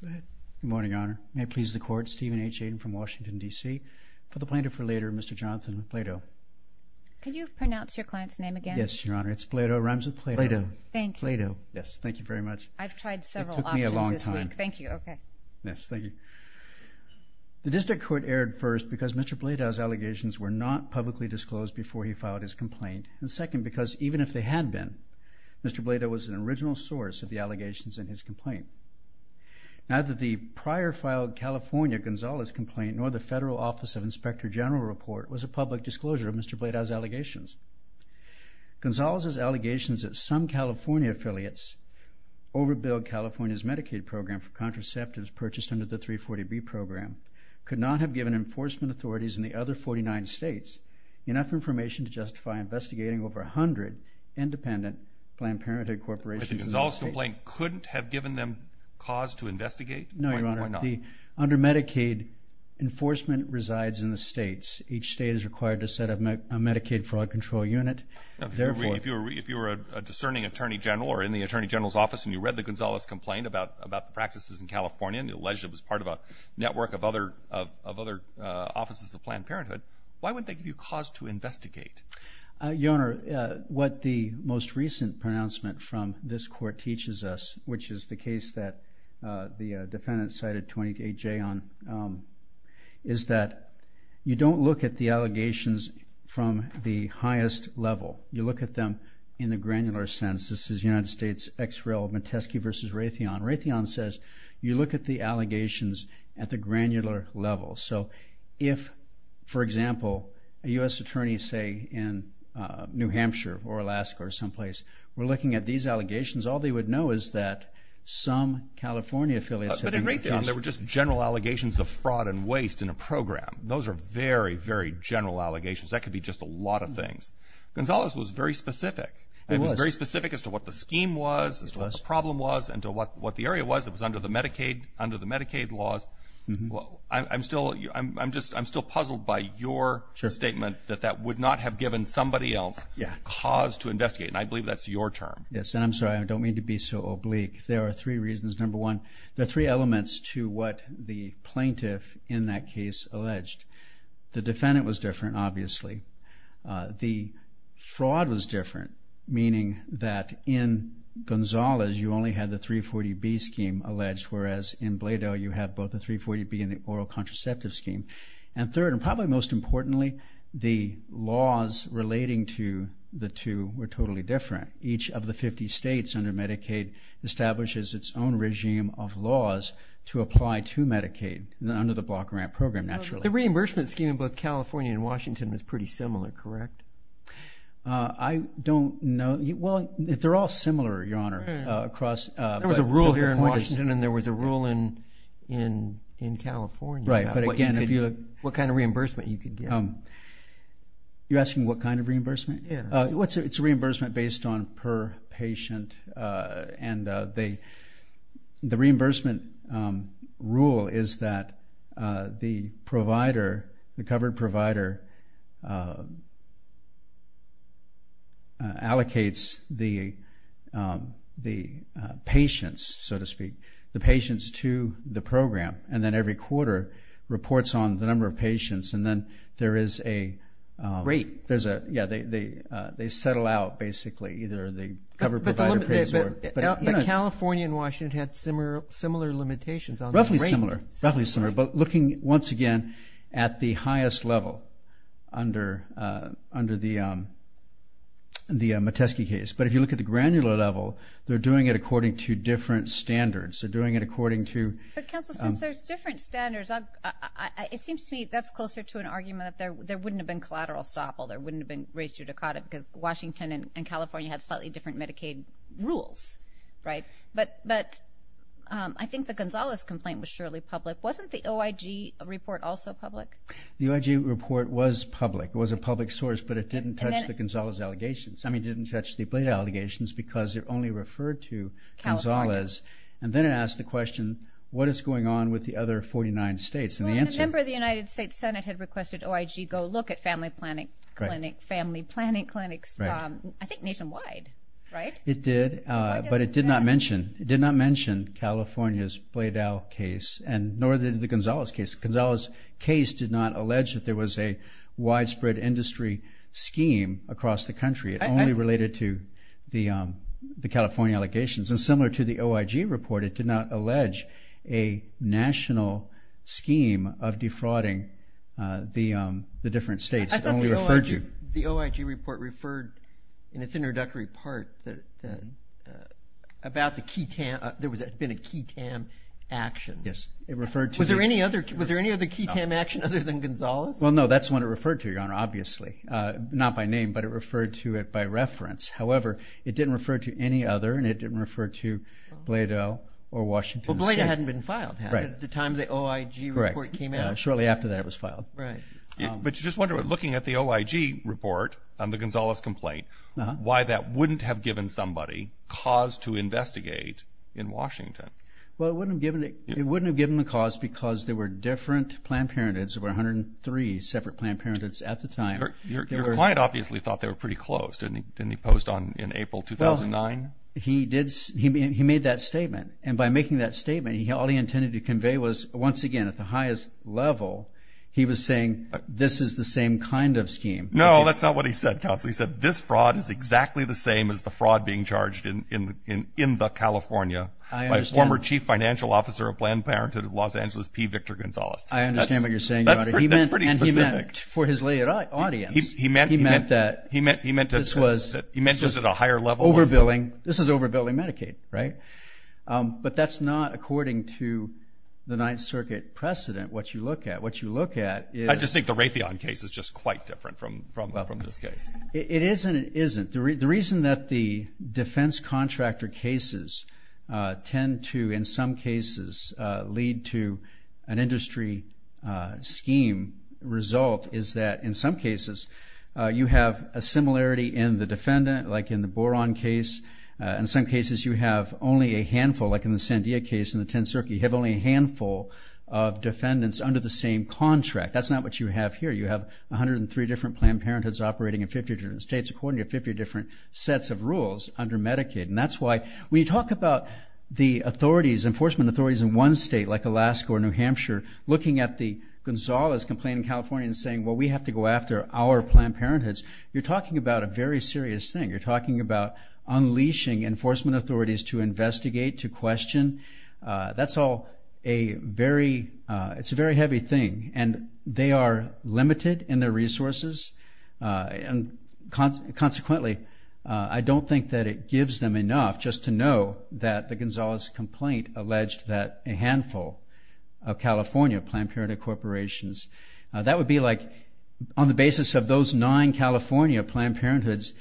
Good morning, Your Honor. May it please the Court, Stephen H. Aden from Washington, D.C. for the plaintiff for later, Mr. Jonathan Bloedow. Could you pronounce your client's name again? Yes, Your Honor. It's Bloedow. It rhymes with Plato. Thank you. Bloedow. Yes. Thank you very much. I've tried several options this week. It took me a long time. Thank you. Okay. Yes. Thank you. The district court erred first because Mr. Bloedow's allegations were not publicly disclosed before he filed his complaint, and second, because even if they had been, Mr. Bloedow was an original source of the allegations in his complaint. Neither the prior filed California Gonzalez complaint nor the Federal Office of Inspector General report was a public disclosure of Mr. Bloedow's allegations. Gonzalez's allegations that some California affiliates overbilled California's Medicaid program for contraceptives purchased under the 340B program could not have given enforcement authorities in the other 49 states enough information to justify investigating over 100 independent Planned Parenthood corporations. But the Gonzalez complaint couldn't have given them cause to investigate? No, Your Honor. Why not? Under Medicaid, enforcement resides in the states. Each state is required to set up a Medicaid fraud control unit. If you were a discerning attorney general or in the attorney general's office and you read the Gonzalez complaint about practices in California and you alleged it was part of a network of other offices of Planned Parenthood, why wouldn't they give you cause to investigate? Your Honor, what the most recent pronouncement from this court teaches us, which is the case that the defendant cited 28J on, is that you don't look at the allegations from the highest level. You look at them in the granular sense. This is United States ex rel. Metesky v. Raytheon. Raytheon says you look at the allegations at the granular level. So if, for example, a U.S. attorney, say, in New Hampshire or Alaska or someplace, were looking at these allegations, all they would know is that some California affiliates... But in Raytheon, there were just general allegations of fraud and waste in a program. Those are very, very general allegations. That could be just a lot of things. Gonzalez was very specific. He was. He was very specific as to what the scheme was, as to what the problem was, and to what the area was that was under the Medicaid laws. I'm still puzzled by your statement that that would not have given somebody else cause to investigate, and I believe that's your term. Yes, and I'm sorry. I don't mean to be so oblique. There are three reasons. Number one, there are three elements to what the plaintiff in that case alleged. The defendant was different, obviously. The fraud was different, meaning that in Gonzalez, you only had the 340B scheme alleged, whereas in Blado, you have both the 340B and the oral contraceptive scheme. And third, and probably most importantly, the laws relating to the two were totally different. Each of the 50 states under Medicaid establishes its own regime of laws to apply to Medicaid, under the block grant program, naturally. The reimbursement scheme in both California and Washington was pretty similar, correct? I don't know. Well, they're all similar, Your Honor, across. There was a rule here in Washington and there was a rule in California. Right, but again, if you look. What kind of reimbursement you could get. You're asking what kind of reimbursement? Yes. It's a reimbursement based on per patient, and the reimbursement rule is that the provider, the covered provider, allocates the patients, so to speak, the patients to the program, and then every quarter reports on the number of patients, and then there is a rate. They settle out, basically, either the covered provider pays or. But California and Washington had similar limitations on the rate. Roughly similar, but looking, once again, at the highest level under the Metesky case. But if you look at the granular level, they're doing it according to different standards. They're doing it according to. But, counsel, since there's different standards, it seems to me that's closer to an argument that there wouldn't have been collateral stop. There wouldn't have been raised judicata because Washington and California had slightly different Medicaid rules, right? But I think the Gonzales complaint was surely public. Wasn't the OIG report also public? The OIG report was public. It was a public source, but it didn't touch the Gonzales allegations. I mean, it didn't touch the blade allegations because it only referred to Gonzales. California. And then it asked the question, what is going on with the other 49 states? A member of the United States Senate had requested OIG go look at family planning clinics, I think nationwide, right? It did, but it did not mention California's Bladel case, nor did the Gonzales case. The Gonzales case did not allege that there was a widespread industry scheme across the country. It only related to the California allegations. And similar to the OIG report, it did not allege a national scheme of defrauding the different states. I thought the OIG report referred in its introductory part that there had been a QTAM action. Yes. Was there any other QTAM action other than Gonzales? Well, no. That's the one it referred to, Your Honor, obviously. Not by name, but it referred to it by reference. However, it didn't refer to any other, and it didn't refer to Bladel or Washington State. Well, Bladel hadn't been filed. Right. At the time the OIG report came out. Correct. Shortly after that, it was filed. Right. But you just wonder, looking at the OIG report on the Gonzales complaint, why that wouldn't have given somebody cause to investigate in Washington. Well, it wouldn't have given the cause because there were different Planned Parenthoods. There were 103 separate Planned Parenthoods at the time. Your client obviously thought they were pretty close, didn't he? Didn't he post in April 2009? Well, he made that statement. And by making that statement, all he intended to convey was, once again, at the highest level, he was saying this is the same kind of scheme. No, that's not what he said, Counsel. He said this fraud is exactly the same as the fraud being charged in the California by a former chief financial officer of Planned Parenthood of Los Angeles, P. Victor Gonzales. I understand what you're saying, Your Honor. That's pretty specific. He meant that this was overbilling. This is overbilling Medicaid, right? But that's not, according to the Ninth Circuit precedent, what you look at. What you look at is... I just think the Raytheon case is just quite different from this case. It is and it isn't. The reason that the defense contractor cases tend to, in some cases, lead to an industry scheme result is that, in some cases, you have a similarity in the defendant, like in the Boron case. In some cases, you have only a handful, like in the Sandia case in the Tenth Circuit, you have only a handful of defendants under the same contract. That's not what you have here. You have 103 different Planned Parenthoods operating in 50 different states according to 50 different sets of rules under Medicaid. And that's why, when you talk about the authorities, enforcement authorities in one state, like Alaska or New Hampshire, looking at the Gonzalez complaint in California and saying, well, we have to go after our Planned Parenthoods, you're talking about a very serious thing. You're talking about unleashing enforcement authorities to investigate, to question. That's all a very heavy thing, and they are limited in their resources. And consequently, I don't think that it gives them enough just to know that the Gonzalez complaint alleged that a handful of California Planned Parenthood corporations, that would be like on the basis of those nine California Planned Parenthoods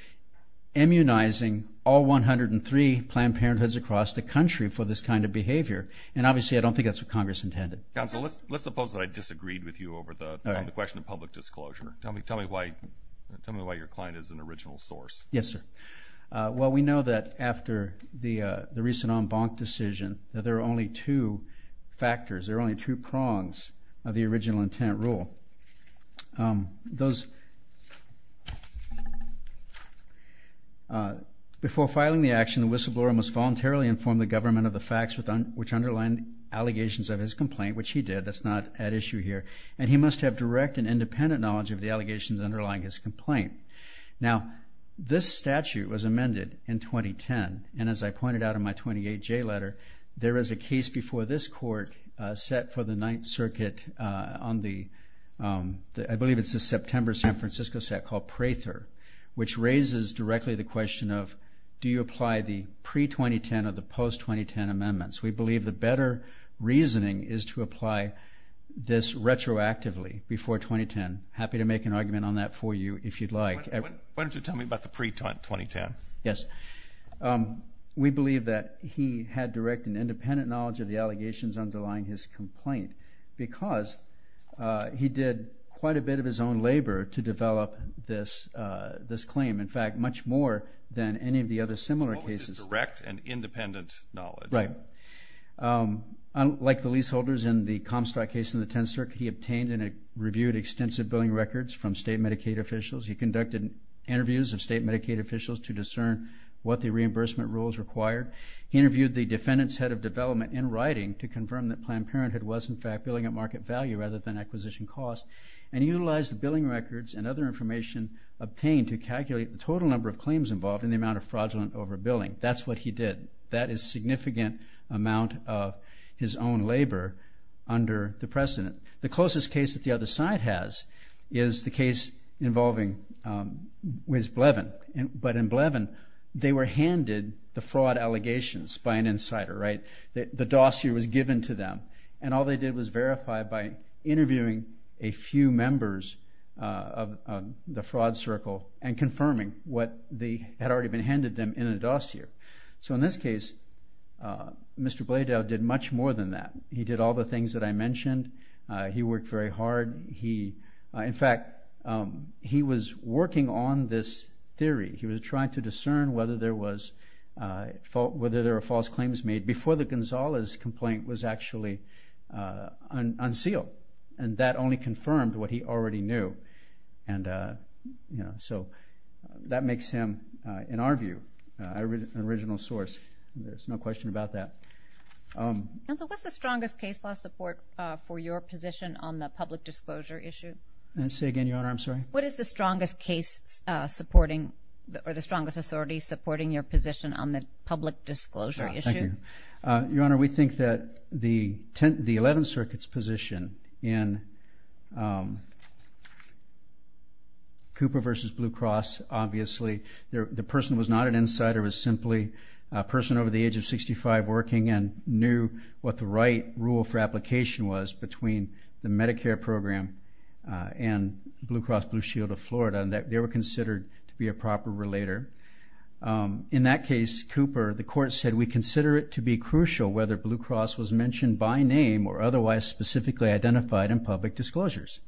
immunizing all 103 Planned Parenthoods across the country for this kind of behavior. And obviously, I don't think that's what Congress intended. Counsel, let's suppose that I disagreed with you over the question of public disclosure. Tell me why your client is an original source. Yes, sir. Well, we know that after the recent en banc decision that there are only two factors, there are only two prongs of the original intent rule. Before filing the action, the whistleblower must voluntarily inform the government of the facts which underline allegations of his complaint, which he did. That's not at issue here. And he must have direct and independent knowledge of the allegations underlying his complaint. Now, this statute was amended in 2010, and as I pointed out in my 28J letter, there is a case before this court set for the Ninth Circuit on the, I believe it's the September San Francisco set called Prather, which raises directly the question of, do you apply the pre-2010 or the post-2010 amendments? We believe the better reasoning is to apply this retroactively before 2010. Happy to make an argument on that for you if you'd like. Why don't you tell me about the pre-2010? Yes. We believe that he had direct and independent knowledge of the allegations underlying his complaint because he did quite a bit of his own labor to develop this claim, in fact, much more than any of the other similar cases. Direct and independent knowledge. Right. Like the leaseholders in the Comstock case in the Tenth Circuit, he obtained and reviewed extensive billing records from state Medicaid officials. He conducted interviews of state Medicaid officials to discern what the reimbursement rules required. He interviewed the defendant's head of development in writing to confirm that Planned Parenthood was, in fact, billing at market value rather than acquisition cost, and he utilized the billing records and other information obtained to calculate the total number of claims involved and the amount of fraudulent overbilling. That's what he did. That is a significant amount of his own labor under the precedent. The closest case that the other side has is the case involving Wes Blevin. But in Blevin, they were handed the fraud allegations by an insider, right? The dossier was given to them, and all they did was verify by interviewing a few members of the fraud circle and confirming what had already been handed them in a dossier. So in this case, Mr. Blaydell did much more than that. He did all the things that I mentioned. He worked very hard. In fact, he was working on this theory. He was trying to discern whether there were false claims made before the Gonzalez complaint was actually unsealed, and that only confirmed what he already knew. So that makes him, in our view, an original source. There's no question about that. Counsel, what's the strongest case law support for your position on the public disclosure issue? Say again, Your Honor, I'm sorry? What is the strongest case supporting or the strongest authority supporting your position on the public disclosure issue? Thank you. Your Honor, we think that the 11th Circuit's position in Cooper v. Blue Cross, obviously the person was not an insider. It was simply a person over the age of 65 working and knew what the right rule for application was between the Medicare program and Blue Cross Blue Shield of Florida, and they were considered to be a proper relator. In that case, Cooper, the court said, we consider it to be crucial whether Blue Cross was mentioned by name or otherwise specifically identified in public disclosures.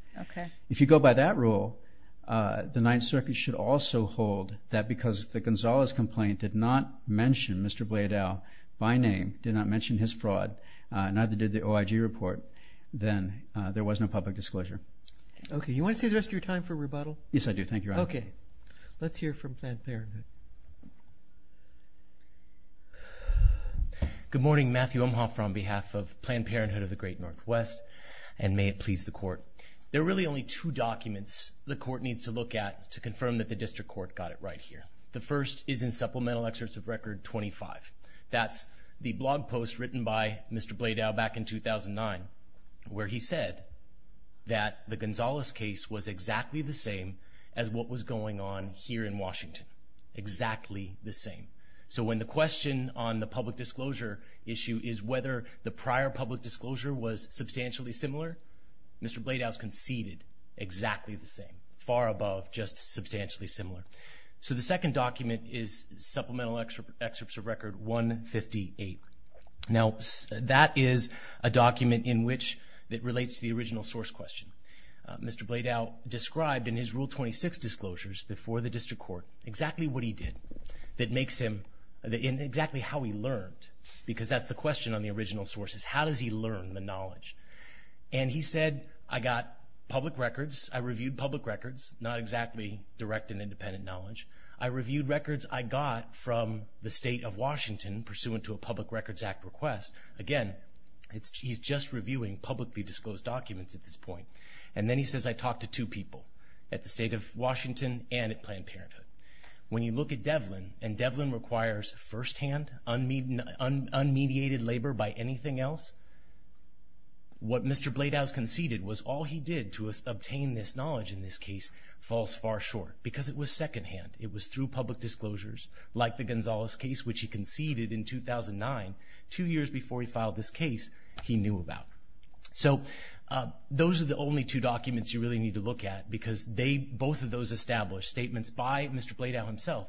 If you go by that rule, the 9th Circuit should also hold that because the Gonzalez complaint did not mention Mr. Blaydell by name, did not mention his fraud, neither did the OIG report, then there was no public disclosure. Okay. You want to stay the rest of your time for rebuttal? Yes, I do. Thank you, Your Honor. Okay. Let's hear from Planned Parenthood. Good morning. Matthew Umhoff on behalf of Planned Parenthood of the Great Northwest, and may it please the court. There are really only two documents the court needs to look at to confirm that the district court got it right here. The first is in Supplemental Excerpt of Record 25. That's the blog post written by Mr. Blaydell back in 2009 where he said that the Gonzalez case was exactly the same as what was going on here in Washington, exactly the same. So when the question on the public disclosure issue is whether the prior public disclosure was substantially similar, Mr. Blaydell's conceded exactly the same, far above just substantially similar. So the second document is Supplemental Excerpt of Record 158. Now, that is a document in which it relates to the original source question. Mr. Blaydell described in his Rule 26 disclosures before the district court exactly what he did and exactly how he learned, because that's the question on the original sources. How does he learn the knowledge? And he said, I got public records, I reviewed public records, not exactly direct and independent knowledge. I reviewed records I got from the state of Washington pursuant to a Public Records Act request. Again, he's just reviewing publicly disclosed documents at this point. And then he says, I talked to two people, at the state of Washington and at Planned Parenthood. When you look at Devlin, and Devlin requires firsthand, unmediated labor by anything else, what Mr. Blaydell conceded was all he did to obtain this knowledge in this case falls far short, because it was secondhand. It was through public disclosures, like the Gonzalez case, which he conceded in 2009, two years before he filed this case, he knew about. So those are the only two documents you really need to look at, because both of those establish statements by Mr. Blaydell himself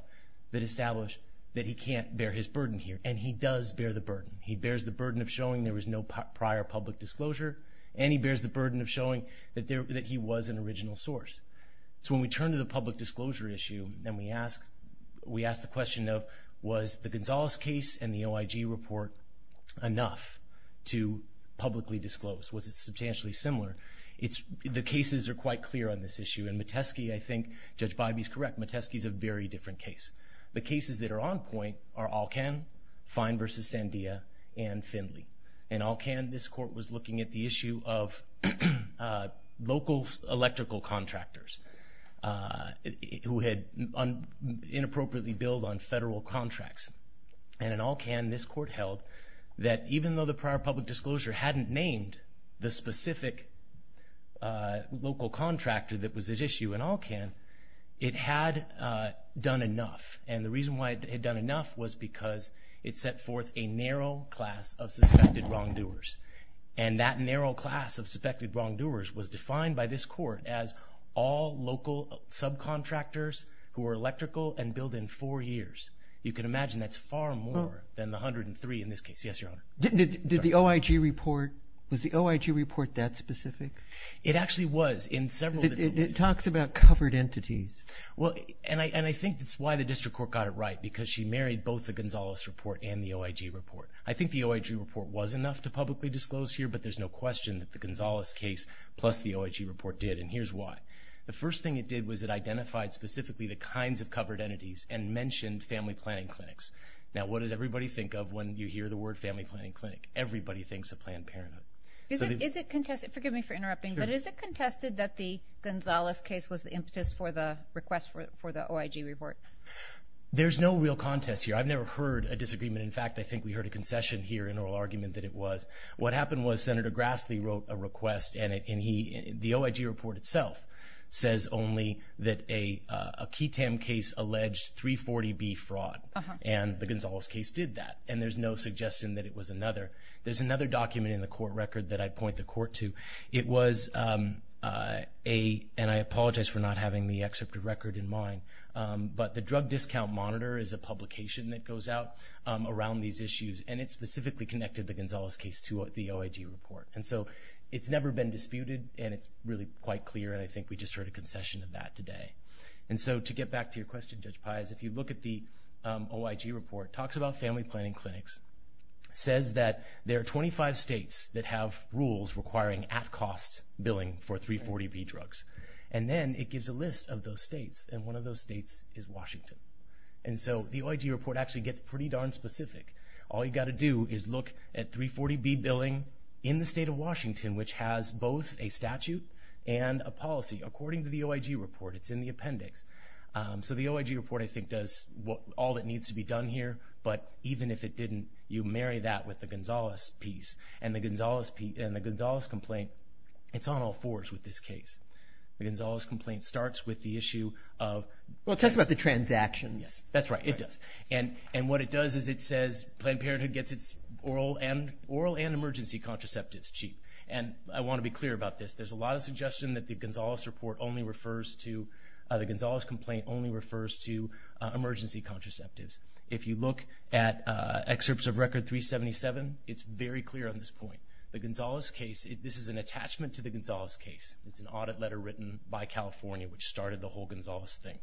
that establish that he can't bear his burden here. And he does bear the burden. He bears the burden of showing there was no prior public disclosure, and he bears the burden of showing that he was an original source. So when we turn to the public disclosure issue, and we ask the question of, was the Gonzalez case and the OIG report enough to publicly disclose? Was it substantially similar? The cases are quite clear on this issue, and Metesky, I think Judge Bybee's correct, Metesky's a very different case. The cases that are on point are Alcan, Fine v. Sandia, and Findley. In Alcan, this court was looking at the issue of local electrical contractors who had inappropriately billed on federal contracts. And in Alcan, this court held that even though the prior public disclosure hadn't named the specific local contractor that was at issue in Alcan, it had done enough, and the reason why it had done enough was because it set forth a narrow class of suspected wrongdoers. And that narrow class of suspected wrongdoers was defined by this court as all local subcontractors who were electrical and billed in four years. You can imagine that's far more than the 103 in this case. Yes, Your Honor. Did the OIG report, was the OIG report that specific? It actually was in several different ways. It talks about covered entities. And I think that's why the district court got it right, because she married both the Gonzalez report and the OIG report. I think the OIG report was enough to publicly disclose here, but there's no question that the Gonzalez case plus the OIG report did, and here's why. The first thing it did was it identified specifically the kinds of covered entities and mentioned family planning clinics. Now, what does everybody think of when you hear the word family planning clinic? Everybody thinks of Planned Parenthood. Is it contested? Forgive me for interrupting, but is it contested that the Gonzalez case was the impetus for the request for the OIG report? There's no real contest here. I've never heard a disagreement. In fact, I think we heard a concession here in oral argument that it was. What happened was Senator Grassley wrote a request, and the OIG report itself says only that a Ketam case alleged 340B fraud, and the Gonzalez case did that. And there's no suggestion that it was another. There's another document in the court record that I'd point the court to. It was a, and I apologize for not having the excerpt of record in mind, but the Drug Discount Monitor is a publication that goes out around these issues, and it specifically connected the Gonzalez case to the OIG report. And so it's never been disputed, and it's really quite clear, and I think we just heard a concession of that today. And so to get back to your question, Judge Pais, if you look at the OIG report, it talks about family planning clinics, says that there are 25 states that have rules requiring at-cost billing for 340B drugs, and then it gives a list of those states, and one of those states is Washington. And so the OIG report actually gets pretty darn specific. All you've got to do is look at 340B billing in the state of Washington, which has both a statute and a policy. According to the OIG report, it's in the appendix. So the OIG report, I think, does all that needs to be done here, but even if it didn't, you marry that with the Gonzalez piece, and the Gonzalez complaint, it's on all fours with this case. The Gonzalez complaint starts with the issue of— Well, it talks about the transactions. That's right, it does. And what it does is it says Planned Parenthood gets its oral and emergency contraceptives cheap. And I want to be clear about this. There's a lot of suggestion that the Gonzalez complaint only refers to emergency contraceptives. If you look at excerpts of Record 377, it's very clear on this point. The Gonzalez case, this is an attachment to the Gonzalez case. It's an audit letter written by California, which started the whole Gonzalez thing.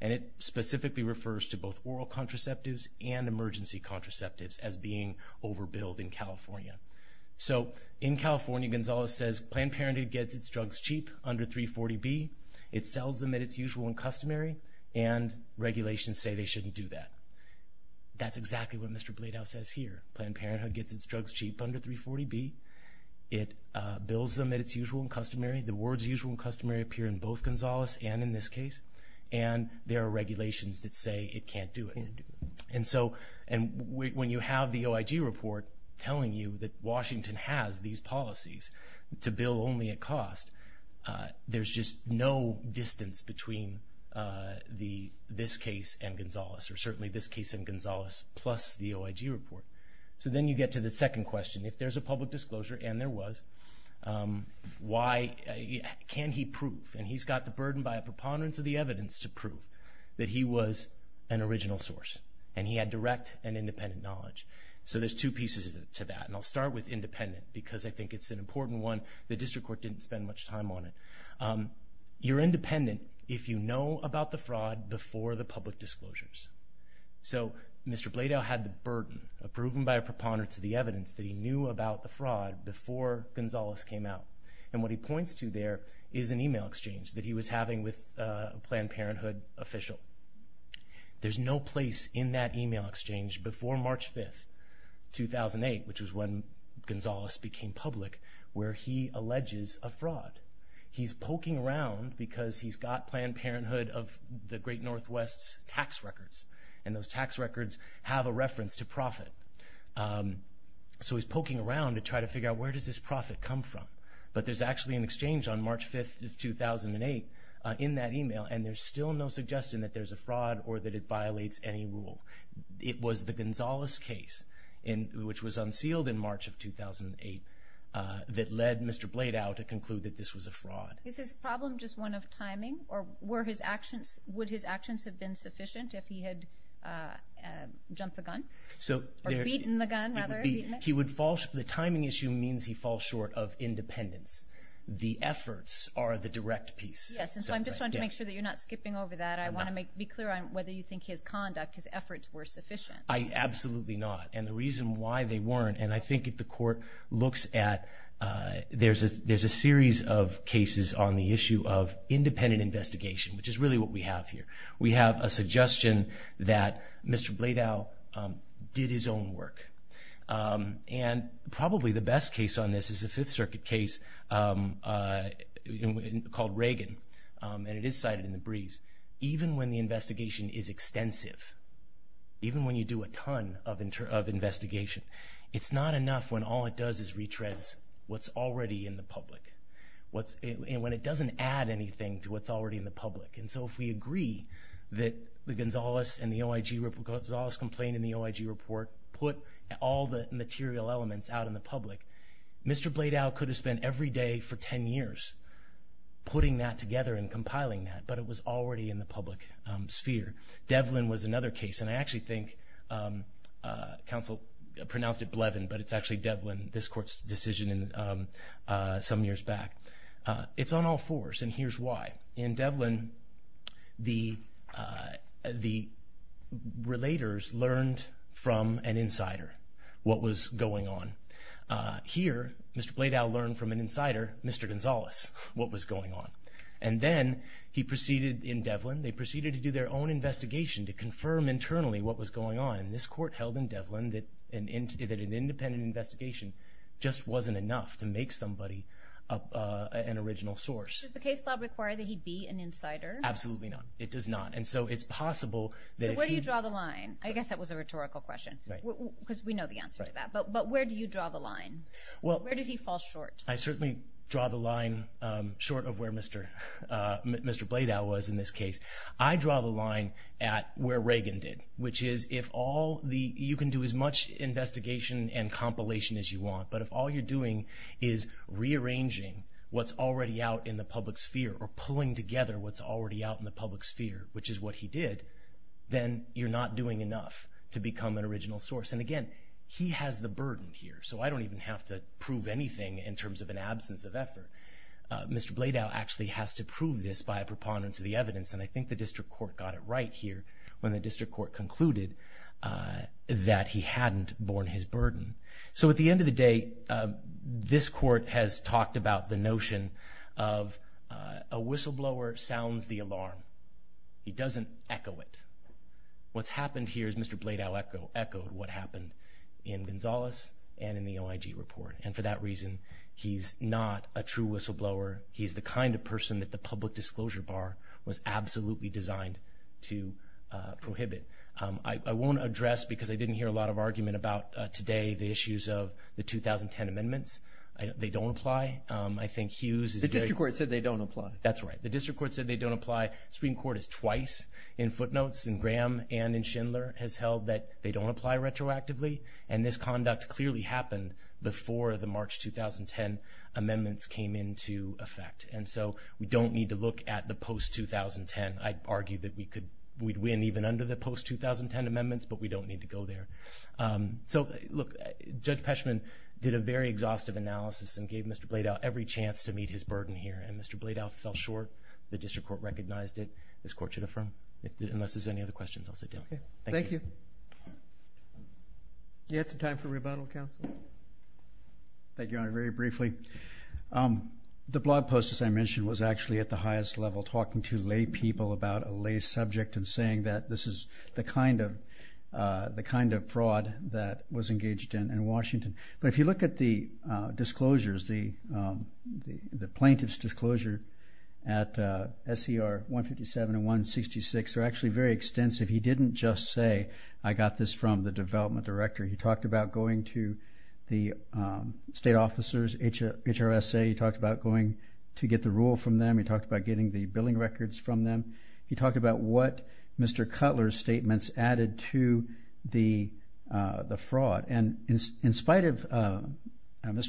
And it specifically refers to both oral contraceptives and emergency contraceptives as being overbilled in California. So in California, Gonzalez says Planned Parenthood gets its drugs cheap under 340B. It sells them at its usual and customary, and regulations say they shouldn't do that. That's exactly what Mr. Bladow says here. Planned Parenthood gets its drugs cheap under 340B. It bills them at its usual and customary. The words usual and customary appear in both Gonzalez and in this case. And there are regulations that say it can't do it. And so when you have the OIG report telling you that Washington has these policies to bill only at cost, there's just no distance between this case and Gonzalez, or certainly this case and Gonzalez plus the OIG report. So then you get to the second question. If there's a public disclosure, and there was, can he prove? And he's got the burden by a preponderance of the evidence to prove that he was an original source, and he had direct and independent knowledge. So there's two pieces to that, and I'll start with independent because I think it's an important one. The district court didn't spend much time on it. You're independent if you know about the fraud before the public disclosures. So Mr. Bladau had the burden, proven by a preponderance of the evidence, that he knew about the fraud before Gonzalez came out. And what he points to there is an e-mail exchange that he was having with a Planned Parenthood official. There's no place in that e-mail exchange before March 5th, 2008, which was when Gonzalez became public, where he alleges a fraud. He's poking around because he's got Planned Parenthood of the great northwest's tax records, and those tax records have a reference to profit. So he's poking around to try to figure out where does this profit come from. But there's actually an exchange on March 5th, 2008, in that e-mail, and there's still no suggestion that there's a fraud or that it violates any rule. It was the Gonzalez case, which was unsealed in March of 2008, that led Mr. Bladau to conclude that this was a fraud. Is his problem just one of timing? Or would his actions have been sufficient if he had jumped the gun? Or beaten the gun, rather? The timing issue means he falls short of independence. The efforts are the direct piece. Yes, and so I'm just trying to make sure that you're not skipping over that. I want to be clear on whether you think his conduct, his efforts, were sufficient. I absolutely not. And the reason why they weren't, and I think if the court looks at, there's a series of cases on the issue of independent investigation, which is really what we have here. We have a suggestion that Mr. Bladau did his own work. And probably the best case on this is a Fifth Circuit case called Reagan, and it is cited in the briefs. Even when you do a ton of investigation, it's not enough when all it does is retreads what's already in the public, when it doesn't add anything to what's already in the public. And so if we agree that the Gonzales complaint in the OIG report put all the material elements out in the public, Mr. Bladau could have spent every day for 10 years putting that together and compiling that, but it was already in the public sphere. Devlin was another case, and I actually think counsel pronounced it Blevin, but it's actually Devlin, this court's decision some years back. It's on all fours, and here's why. In Devlin, the relators learned from an insider what was going on. Here, Mr. Bladau learned from an insider, Mr. Gonzales, what was going on. And then he proceeded in Devlin, they proceeded to do their own investigation to confirm internally what was going on, and this court held in Devlin that an independent investigation just wasn't enough to make somebody an original source. Does the case law require that he be an insider? Absolutely not. It does not, and so it's possible that if he... So where do you draw the line? I guess that was a rhetorical question, because we know the answer to that, but where do you draw the line? Where did he fall short? I certainly draw the line short of where Mr. Bladau was in this case. I draw the line at where Reagan did, which is if all the... You can do as much investigation and compilation as you want, but if all you're doing is rearranging what's already out in the public sphere or pulling together what's already out in the public sphere, which is what he did, then you're not doing enough to become an original source. And again, he has the burden here, so I don't even have to prove anything in terms of an absence of effort. Mr. Bladau actually has to prove this by a preponderance of the evidence, and I think the district court got it right here when the district court concluded that he hadn't borne his burden. So at the end of the day, this court has talked about the notion of a whistleblower sounds the alarm. He doesn't echo it. What's happened here is Mr. Bladau echoed what happened in Gonzales and in the OIG report, and for that reason he's not a true whistleblower. He's the kind of person that the public disclosure bar was absolutely designed to prohibit. I won't address, because I didn't hear a lot of argument about today, the issues of the 2010 amendments. They don't apply. I think Hughes is very... The district court said they don't apply. That's right. The district court said they don't apply. Supreme Court has twice in footnotes, in Graham and in Schindler, has held that they don't apply retroactively, and this conduct clearly happened before the March 2010 amendments came into effect. And so we don't need to look at the post-2010. I'd argue that we'd win even under the post-2010 amendments, but we don't need to go there. So, look, Judge Peshman did a very exhaustive analysis and gave Mr. Bladau every chance to meet his burden here, and Mr. Bladau fell short. The district court recognized it. This court should affirm. Unless there's any other questions, I'll sit down. Okay. Thank you. Do you have some time for rebuttal, counsel? Thank you, Your Honor. Very briefly, the blog post, as I mentioned, was actually at the highest level, talking to lay people about a lay subject and saying that this is the kind of fraud that was engaged in in Washington. But if you look at the disclosures, the plaintiff's disclosure at SER 157 and 166 are actually very extensive. He didn't just say, I got this from the development director. He talked about going to the state officers, HRSA. He talked about going to get the rule from them. He talked about getting the billing records from them. He talked about what Mr. Cutler's statements added to the fraud. And in spite of Mr.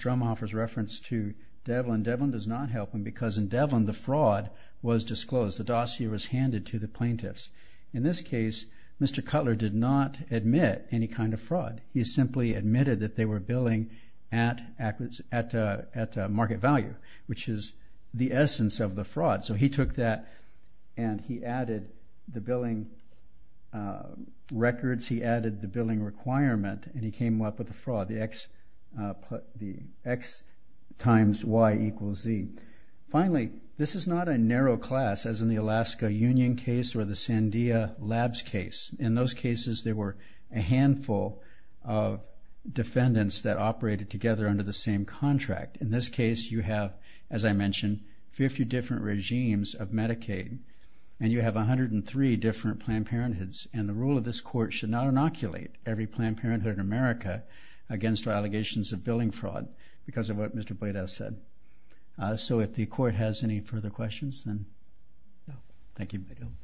Almohoffer's reference to Devlin, Devlin does not help him because in Devlin the fraud was disclosed. The dossier was handed to the plaintiffs. In this case, Mr. Cutler did not admit any kind of fraud. He simply admitted that they were billing at market value, which is the essence of the fraud. So he took that and he added the billing records, he added the billing requirement, and he came up with the fraud, the X times Y equals Z. Finally, this is not a narrow class as in the Alaska Union case or the Sandia Labs case. In those cases there were a handful of defendants that operated together under the same contract. In this case you have, as I mentioned, 50 different regimes of Medicaid and you have 103 different Planned Parenthoods, and the rule of this court should not inoculate every Planned Parenthood in America against allegations of billing fraud because of what Mr. Bladau said. So if the court has any further questions, then thank you very much.